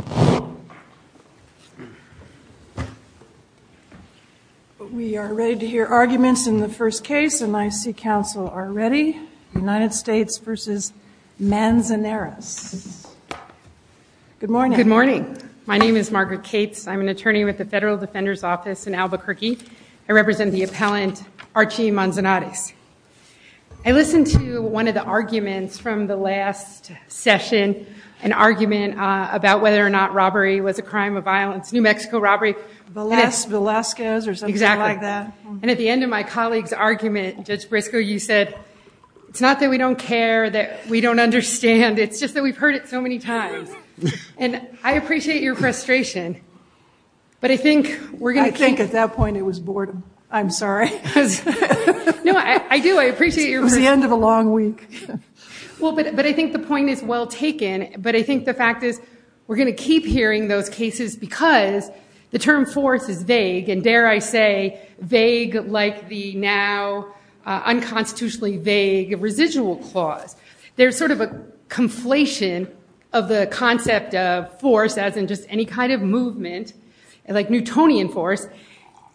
Good morning. My name is Margaret Cates. I'm an attorney with the Federal Defender's Office in Albuquerque. I represent the appellant Archie Manzanares. I listened to one of the crime of violence, New Mexico robbery. And at the end of my colleague's argument, Judge Briscoe, you said, it's not that we don't care, that we don't understand, it's just that we've heard it so many times. And I appreciate your frustration. But I think we're going to keep- I think at that point it was boredom. I'm sorry. No, I do. I appreciate your- It was the end of a long week. Well, but I think the point is well taken. But I think the fact is, we're going to keep hearing those cases because the term force is vague, and dare I say, vague like the now unconstitutionally vague residual clause. There's sort of a conflation of the concept of force as in just any kind of movement, like Newtonian force,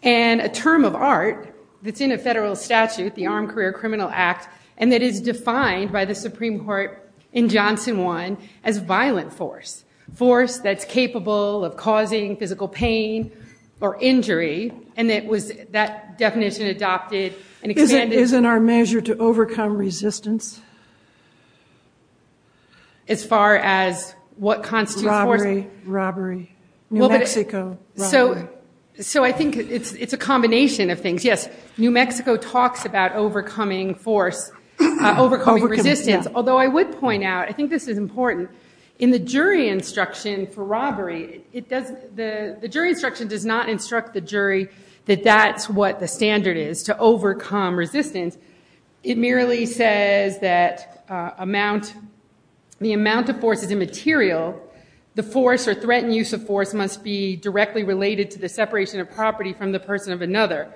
and a term of art that's in a federal statute, the Armed Career Criminal Act, and that is defined by the Supreme Court in Johnson 1 as violent force, force that's capable of causing physical pain or injury. And that definition adopted and expanded- Isn't our measure to overcome resistance? As far as what constitutes force- Robbery, robbery, New Mexico robbery. So I think it's a combination of things. Yes, New Mexico talks about overcoming force, overcoming resistance, although I would point out, I think this is important, in the jury instruction for robbery, the jury instruction does not instruct the jury that that's what the standard is to overcome resistance. It merely says that the amount of force is immaterial. The separation of property from the person of another,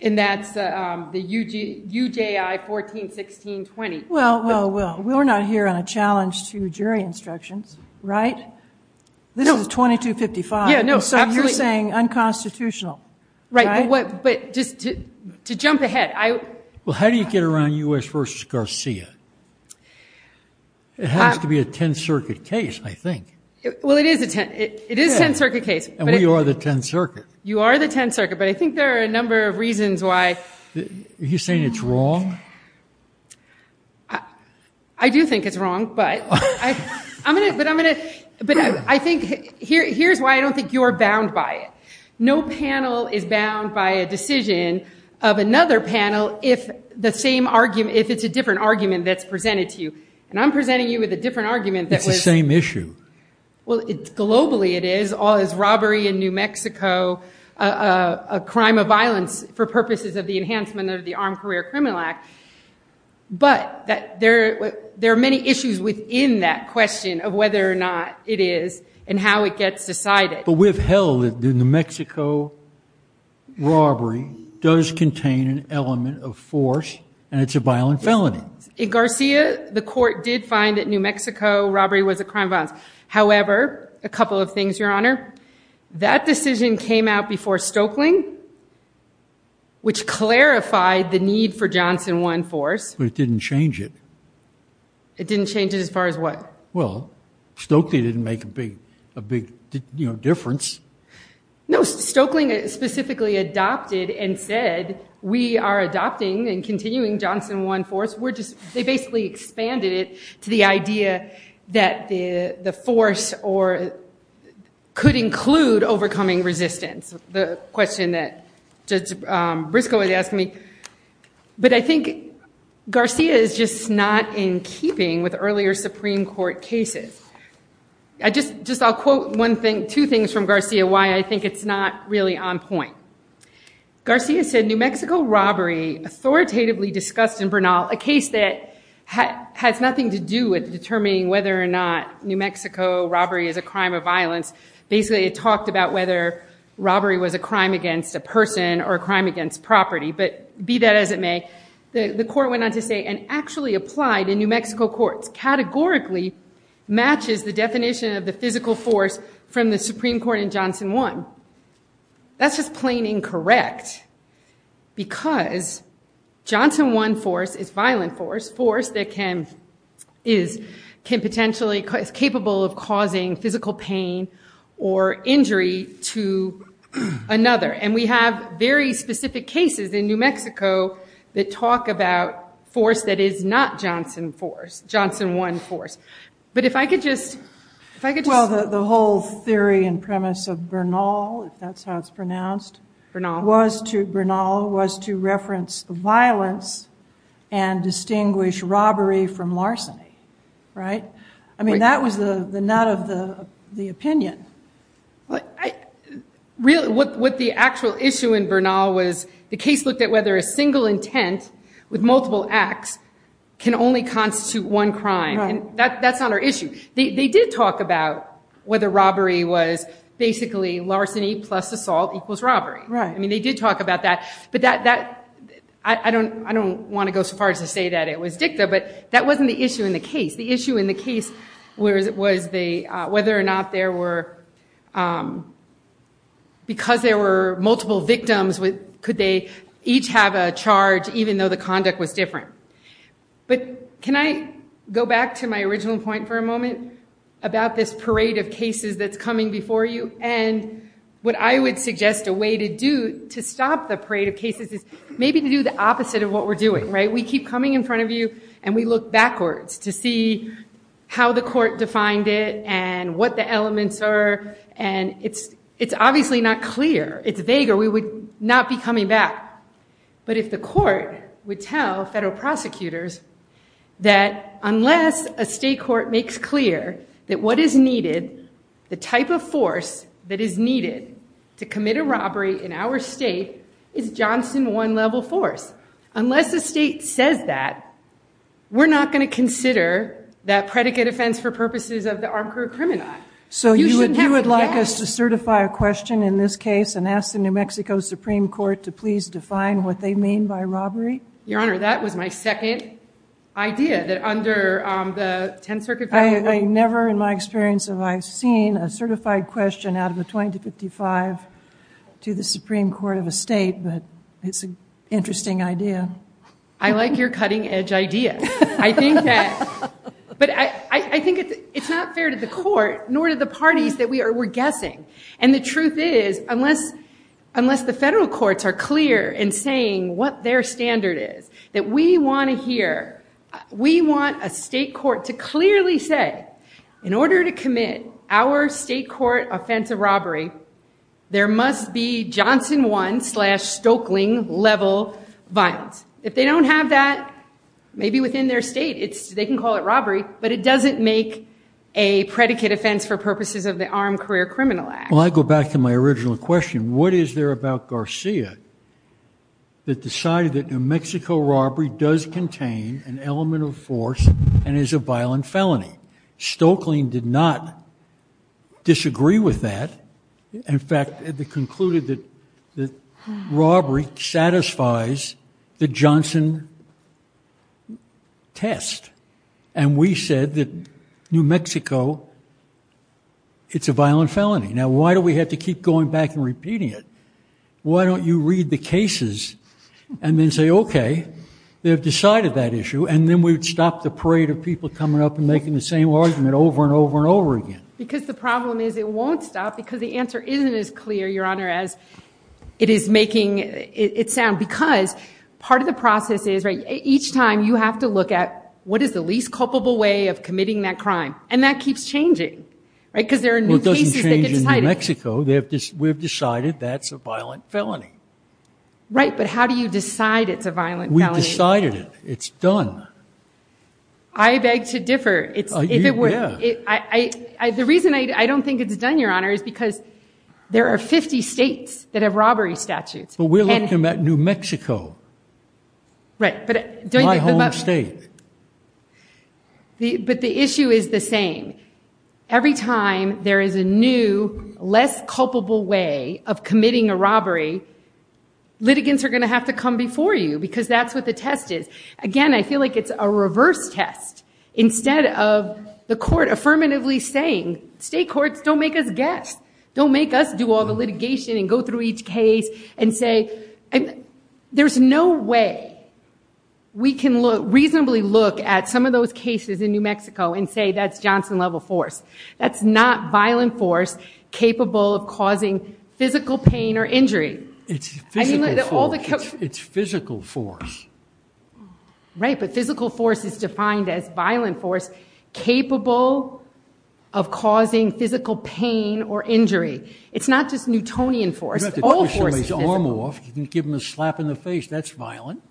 and that's the UJI 141620. Well, well, well, we're not here on a challenge to jury instructions, right? This is 2255. So you're saying unconstitutional, right? But just to jump ahead, I- Well, how do you get around U.S. v. Garcia? It has to be a Tenth Circuit case, I think. Well, it is a Tenth Circuit case. And we are the Tenth Circuit. You are the Tenth Circuit, but I think there are a number of reasons why- Are you saying it's wrong? I do think it's wrong, but I'm going to, but I think, here's why I don't think you're bound by it. No panel is bound by a decision of another panel if the same argument, if it's a different argument that's presented to you. And I'm presenting you with a different argument that was- It's the same issue. Well, globally it is. All this robbery in New Mexico, a crime of violence for purposes of the enhancement of the Armed Career Criminal Act. But there are many issues within that question of whether or not it is and how it gets decided. But we've held that the New Mexico robbery does contain an element of force and it's a violent felony. In Garcia, the court did find that New Mexico robbery was a crime of violence. However, a couple of things, Your Honor. That decision came out before Stokely, which clarified the need for Johnson One Force. But it didn't change it. It didn't change it as far as what? Well, Stokely didn't make a big difference. No, Stokely specifically adopted and said, we are adopting and continuing Johnson One Force. They basically expanded it to the idea that the force could include overcoming resistance. The question that Judge Briscoe was asking me. But I think Garcia is just not in keeping with earlier Supreme Court cases. Just I'll quote two things from Garcia why I think it's not really on point. Garcia said, New Mexico robbery authoritatively discussed in Bernal, a case that has nothing to do with determining whether or not New Mexico robbery is a crime of violence. Basically, it talked about whether robbery was a crime against a person or a crime against property. But be that as it may, the court went on to say, and actually applied in New Mexico courts categorically matches the definition of the physical force from the Supreme Court in Johnson One. That's just plain incorrect because Johnson One Force is violent force. Force that can potentially, is capable of causing physical pain or injury to another. And we have very specific cases in New Mexico that talk about force that is not Johnson Force, Johnson One Force. But if I could just. Well, the whole theory and premise of Bernal, if that's how it's pronounced, was to reference violence and distinguish robbery from larceny. Right? I mean, that was the nut of the opinion. What the actual issue in Bernal was, the case looked at whether a single intent with multiple acts can only constitute one crime. That's not our issue. They did talk about whether robbery was basically larceny plus assault equals robbery. Right. I mean, they did talk about that. But that, I don't want to go so far as to say that it was dicta, but that wasn't the issue in the case. The issue in the case was whether or not there were, because there were multiple victims, could they each have a charge even though the conduct was different? But can I go back to my original point for a moment about this parade of cases that's coming before you? And what I would suggest a way to do to stop the parade of cases is maybe to do the opposite of what we're doing. Right. We keep coming in front of you and we look backwards to see how the court defined it and what the elements are. And it's obviously not clear. It's vague. Or we would not be coming back. But if the court would tell federal prosecutors that unless a state court makes clear that what is needed, the type of force that is needed to commit a robbery in our state is Johnson one level force. Unless the state says that, we're not going to consider that predicate offense for purposes of the armed group criminal. So you would like us to certify a question in this case and ask the New Mexico Supreme Court to please define what they mean by robbery? Your Honor, that was my second idea that under the 10th Circuit. I never in my experience have I seen a certified question out of a 20 to 55 to the Supreme Court of a state, but it's an interesting idea. I like your cutting edge idea. I think that, but I think it's not fair to the court nor to the parties that we are, we're guessing. And the truth is, unless the federal courts are clear in saying what their standard is, that we want to hear, we want a state court to clearly say, in order to commit our state court offense of robbery, there must be Johnson one slash Stoeckling level violence. If they don't have that, maybe within their state, they can call it robbery, but it doesn't make a predicate offense for purposes of the Armed Career Criminal Act. Well, I go back to my original question. What is there about Garcia that decided that New Mexico robbery does contain an element of force and is a violent felony? Stoeckling did not disagree with that. In fact, they concluded that robbery satisfies the Johnson test. And we said that New Mexico, it's a violent felony. Now, why do we have to keep going back and repeating it? Why don't you read the cases and then say, OK, they've decided that issue. And then we'd stop the parade of people coming up and making the same argument over and over and over again. Because the problem is it won't stop, because the answer isn't as clear, Your Honor, as it is making it sound. Because part of the process is, each time, you have to look at what is the least culpable way of committing that crime. And that keeps changing, because there are new cases that get cited. Well, it doesn't change in New Mexico. We've decided that's a violent felony. Right. But how do you decide it's a violent felony? We've decided it. It's done. I beg to differ. The reason I don't think it's done, Your Honor, is because there are 50 states that have robbery statutes. But we're looking at New Mexico. Right. My home state. But the issue is the same. Every time there is a new, less culpable way of committing a robbery, litigants are going to have to come before you, because that's what the test is. Again, I feel like it's a reverse test. Instead of the court affirmatively saying, state courts, don't make us guess. Don't make us do all the litigation and go through each case and say, and there's no way we can reasonably look at some of those cases in New Mexico and say that's Johnson level force. That's not violent force capable of causing physical pain or injury. It's physical force. It's physical force. Right. But physical force is defined as violent force capable of causing physical pain or injury. It's not just Newtonian force. All force is physical. You can give him a slap in the face. That's violent.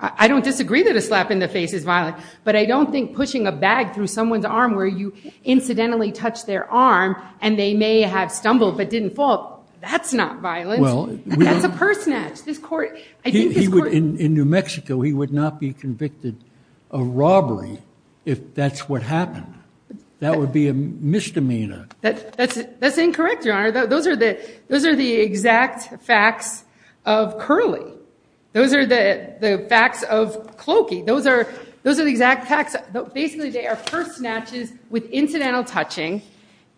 I don't disagree that a slap in the face is violent. But I don't think pushing a bag through someone's arm where you incidentally touch their arm, and they may have stumbled but didn't fall, that's not violent. That's a purse snatch. This court, I think this court. In New Mexico, he would not be convicted of robbery if that's what happened. That would be a misdemeanor. That's incorrect, Your Honor. Those are the exact facts of curly. Those are the facts of cloaky. Those are the exact facts. Basically, they are purse snatches with incidental touching.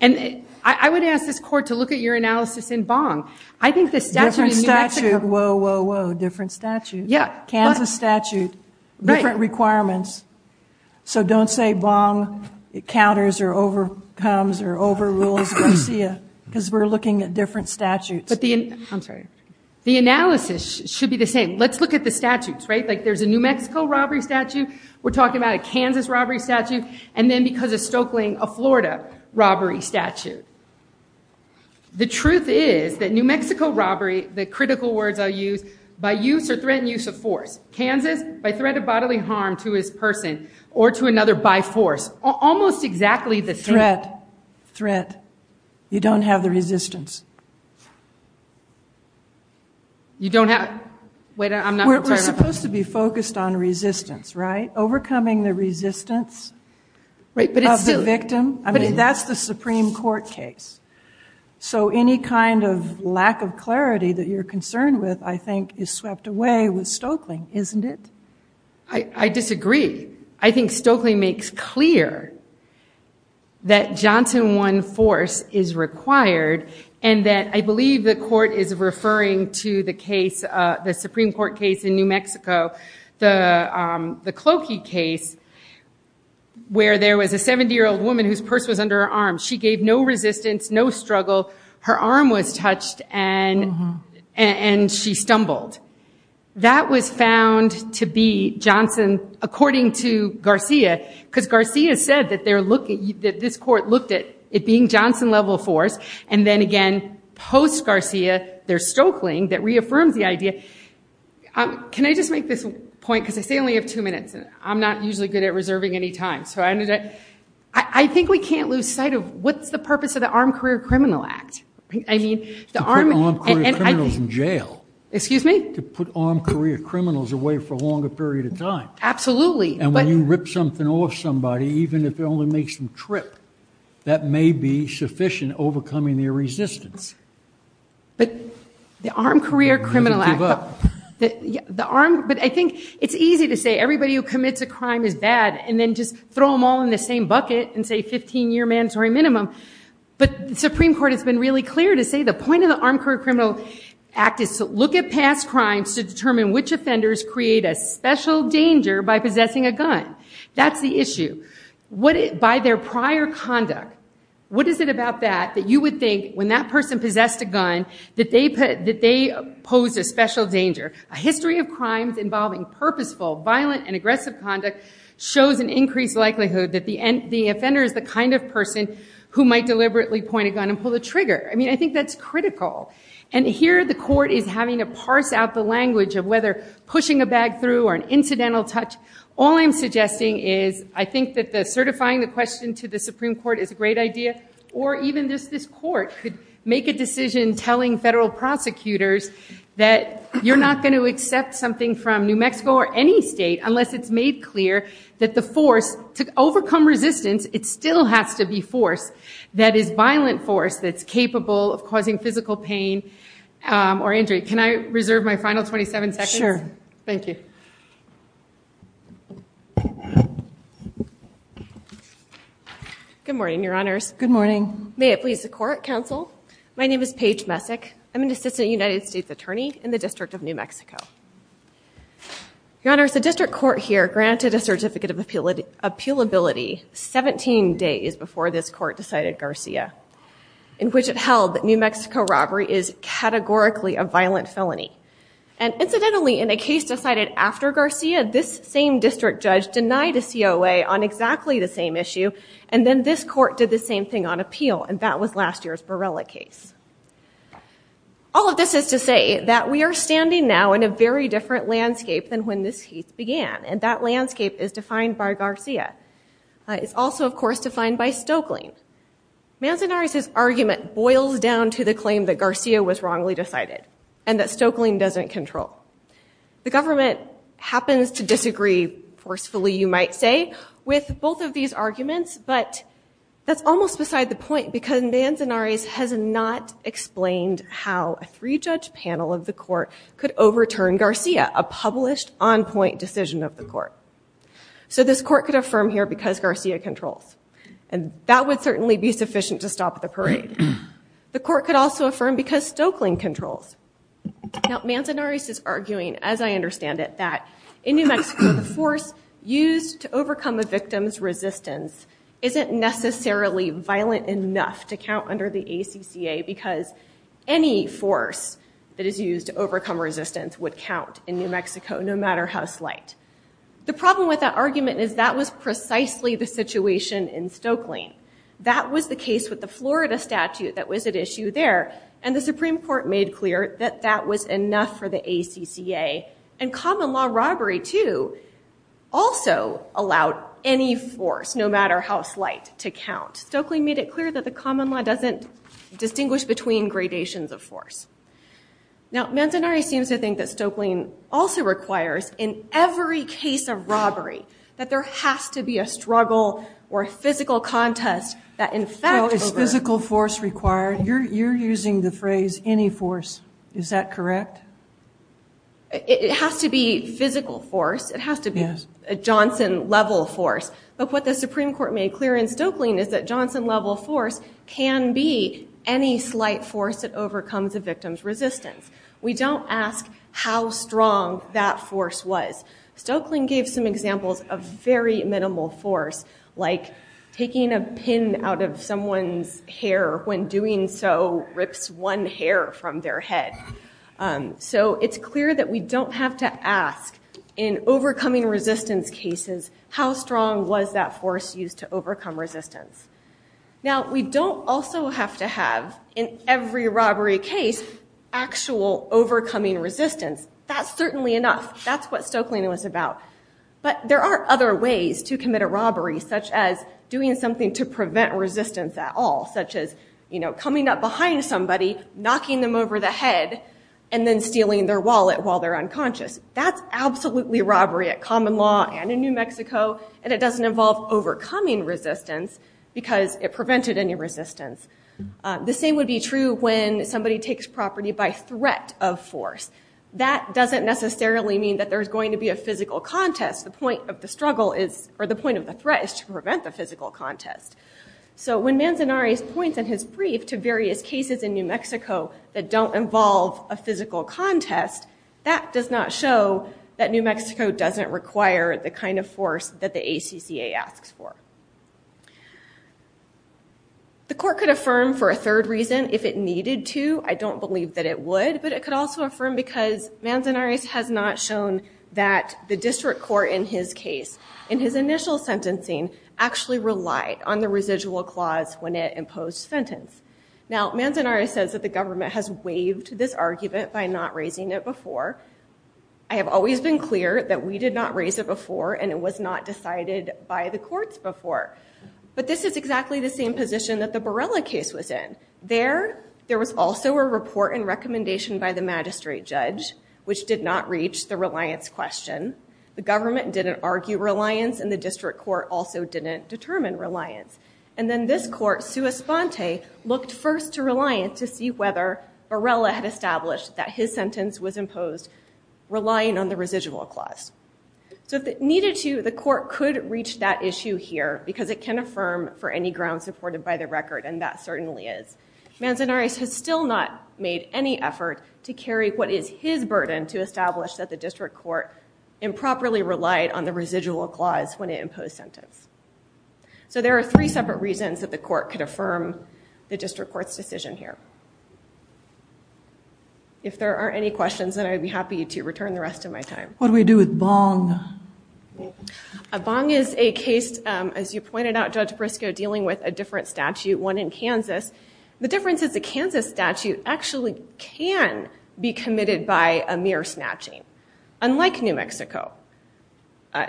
And I would ask this court to look at your analysis in Bong. I think the statute in New Mexico. Whoa, whoa, whoa. Different statute. Kansas statute, different requirements. So don't say Bong counters or overcomes or overrules Garcia. Because we're looking at different statutes. I'm sorry. The analysis should be the same. Let's look at the statutes. There's a New Mexico robbery statute. We're talking about a Kansas robbery statute. And then because of Stokelying, a Florida robbery statute. The truth is that New Mexico robbery, the critical words I use, by use or threatened use of force. Kansas, by threat of bodily harm to his person or to another by force. Almost exactly the same. Threat. Threat. You don't have the resistance. You don't have? Wait, I'm not sure. We're supposed to be focused on resistance, right? Overcoming the resistance of the victim. I mean, that's the Supreme Court case. So any kind of lack of clarity that you're concerned with, I think, is swept away with Stokelying, isn't it? I disagree. I think Stokelying makes clear that Johnson won force is required, and that I believe the court is referring to the Supreme Court case in New Mexico, the Clokey case, where there was a 70-year-old woman whose purse was under her arm. She gave no resistance, no struggle. Her arm was touched, and she stumbled. That was found to be, according to Garcia, because Garcia said that this court looked at it being Johnson level force. And then again, post-Garcia, there's Stokelying that reaffirms the idea. Can I just make this point, because I say only have two minutes. I'm not usually good at reserving any time. So I think we can't lose sight of what's the purpose of the Armed Career Criminal Act. I mean, the Armed Career Criminals in jail. Excuse me? To put armed career criminals away for a longer period of time. Absolutely. And when you rip something off somebody, even if it only makes them trip, that may be sufficient overcoming their resistance. But the Armed Career Criminal Act, the armed, but I think it's easy to say everybody who commits a crime is bad, and then just throw them all in the same bucket and say 15-year mandatory minimum. But the Supreme Court has been really clear to say the point of the Armed Career Criminal Act is to look at past crimes to determine which offenders create a special danger by possessing a gun. That's the issue. By their prior conduct, what is it about that that you would think, when that person possessed a gun, that they posed a special danger? A history of crimes involving purposeful, violent, and aggressive conduct shows an increased likelihood that the offender is the kind of person who might deliberately point a gun and pull the trigger. I mean, I think that's critical. And here, the court is having to parse out the language of whether pushing a bag through or an incidental touch. All I'm suggesting is I think that certifying the question to the Supreme Court is a great idea. Or even just this court could make a decision telling federal prosecutors that you're not going to accept something from New Mexico or any state unless it's made clear that the force to overcome resistance, it still has to be force that is violent force that's painful, pain, or injury. Can I reserve my final 27 seconds? Sure. Thank you. Good morning, Your Honors. Good morning. May it please the court, counsel. My name is Paige Messick. I'm an assistant United States attorney in the District of New Mexico. Your Honors, the district court here granted a certificate of appealability 17 days before this court decided Garcia, in which it held that New Mexico robbery is categorically a violent felony. And incidentally, in a case decided after Garcia, this same district judge denied a COA on exactly the same issue. And then this court did the same thing on appeal. And that was last year's Borrella case. All of this is to say that we are standing now in a very different landscape than when this case began. And that landscape is defined by Garcia. It's also, of course, defined by Stoeckling. Manzanares' argument boils down to the claim that Garcia was wrongly decided and that Stoeckling doesn't control. The government happens to disagree forcefully, you might say, with both of these arguments. But that's almost beside the point, because Manzanares has not explained how a three-judge panel of the court could overturn Garcia, a published, on-point decision of the court. So this court could affirm here because Garcia controls. And that would certainly be sufficient to stop the parade. The court could also affirm because Stoeckling controls. Now, Manzanares is arguing, as I understand it, that in New Mexico, the force used to overcome a victim's resistance isn't necessarily violent enough to count under the ACCA, because any force that is used to overcome resistance would count in New Mexico, no matter how slight. The problem with that argument is that was precisely the situation in Stoeckling. That was the case with the Florida statute that was at issue there. And the Supreme Court made clear that that was enough for the ACCA. And common law robbery, too, also allowed any force, no matter how slight, to count. Stoeckling made it clear that the common law doesn't distinguish between gradations of force. Now, Manzanares seems to think that Stoeckling also of robbery, that there has to be a struggle or a physical contest that, in fact, over- So is physical force required? You're using the phrase, any force. Is that correct? It has to be physical force. It has to be a Johnson-level force. But what the Supreme Court made clear in Stoeckling is that Johnson-level force can be any slight force that overcomes a victim's resistance. We don't ask how strong that force was. Stoeckling gave some examples of very minimal force, like taking a pin out of someone's hair when doing so rips one hair from their head. So it's clear that we don't have to ask, in overcoming resistance cases, how strong was that force used to overcome resistance. Now, we don't also have to have, in every robbery case, actual overcoming resistance. That's certainly enough. That's what Stoeckling was about. But there are other ways to commit a robbery, such as doing something to prevent resistance at all, such as coming up behind somebody, knocking them over the head, and then stealing their wallet while they're unconscious. That's absolutely robbery at common law and in New Mexico. And it doesn't involve overcoming resistance, because it prevented any resistance. The same would be true when somebody takes property by threat of force. That doesn't necessarily mean that there's going to be a physical contest. The point of the struggle is, or the point of the threat, is to prevent the physical contest. So when Manzanares points in his brief to various cases in New Mexico that don't involve a physical contest, that does not show that New Mexico doesn't require the kind of force that the ACCA asks for. The court could affirm for a third reason if it needed to. I don't believe that it would. But it could also affirm because Manzanares has not shown that the district court in his case, in his initial sentencing, actually relied on the residual clause when it imposed sentence. Now, Manzanares says that the government has waived this argument by not raising it before. I have always been clear that we did not raise it before, and it was not decided by the courts before. But this is exactly the same position that the Borrella case was in. There, there was also a report and recommendation by the magistrate judge, which did not reach the reliance question. The government didn't argue reliance, and the district court also didn't determine reliance. And then this court, sua sponte, looked first to reliance to see whether Borrella had established that his sentence was imposed relying on the residual clause. So if it needed to, the court could reach that issue here, because it can affirm for any ground supported by the record, and that certainly is. Manzanares has still not made any effort to carry what is his burden to establish that the district court improperly relied on the residual clause when it imposed sentence. So there are three separate reasons that the court could affirm the district court's decision here. If there aren't any questions, then I'd be happy to return the rest of my time. What do we do with Bong? Bong is a case, as you pointed out, Judge Briscoe, dealing with a different statute, one in Kansas. The difference is the Kansas statute actually can be committed by a mere snatching, unlike New Mexico.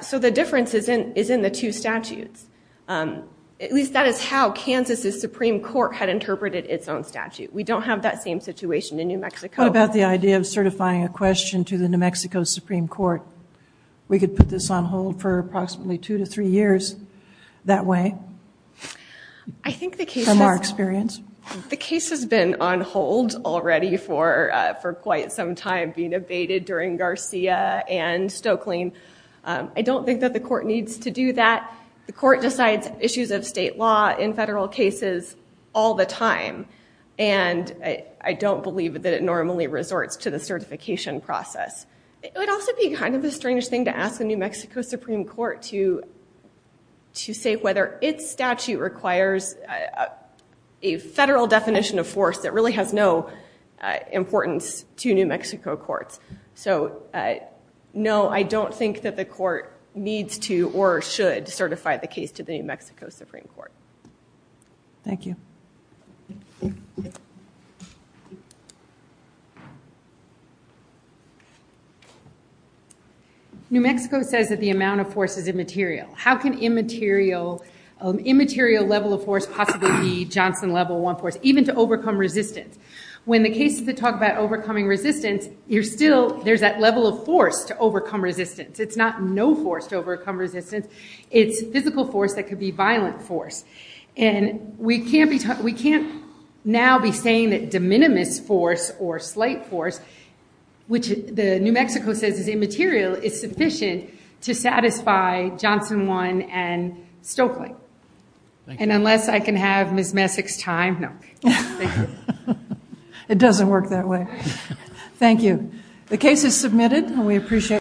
So the difference is in the two statutes. At least that is how Kansas's Supreme Court had interpreted its own statute. We don't have that same situation in New Mexico. What about the idea of certifying a question to the New Mexico Supreme Court? We could put this on hold for approximately two to three years that way. I think the case has been on hold already for quite some time, being abated during Garcia and Stokelyne. I don't think that the court needs to do that. The court decides issues of state law in federal cases all the time. And I don't believe that it normally resorts to the certification process. It would also be kind of a strange thing to ask the New Mexico Supreme Court to say whether its statute requires a federal definition of force that really has no importance to New Mexico courts. So no, I don't think that the court needs to or should certify the case to the New Mexico Supreme Court. Thank you. Thank you. New Mexico says that the amount of force is immaterial. How can immaterial level of force possibly be Johnson level 1 force, even to overcome resistance? When the case is to talk about overcoming resistance, there's that level of force to overcome resistance. It's not no force to overcome resistance. It's physical force that could be violent force. And we can't now be saying that de minimis force or slight force, which the New Mexico says is immaterial, is sufficient to satisfy Johnson 1 and Stokely. And unless I can have Ms. Messick's time, no. It doesn't work that way. Thank you. The case is submitted, and we appreciate.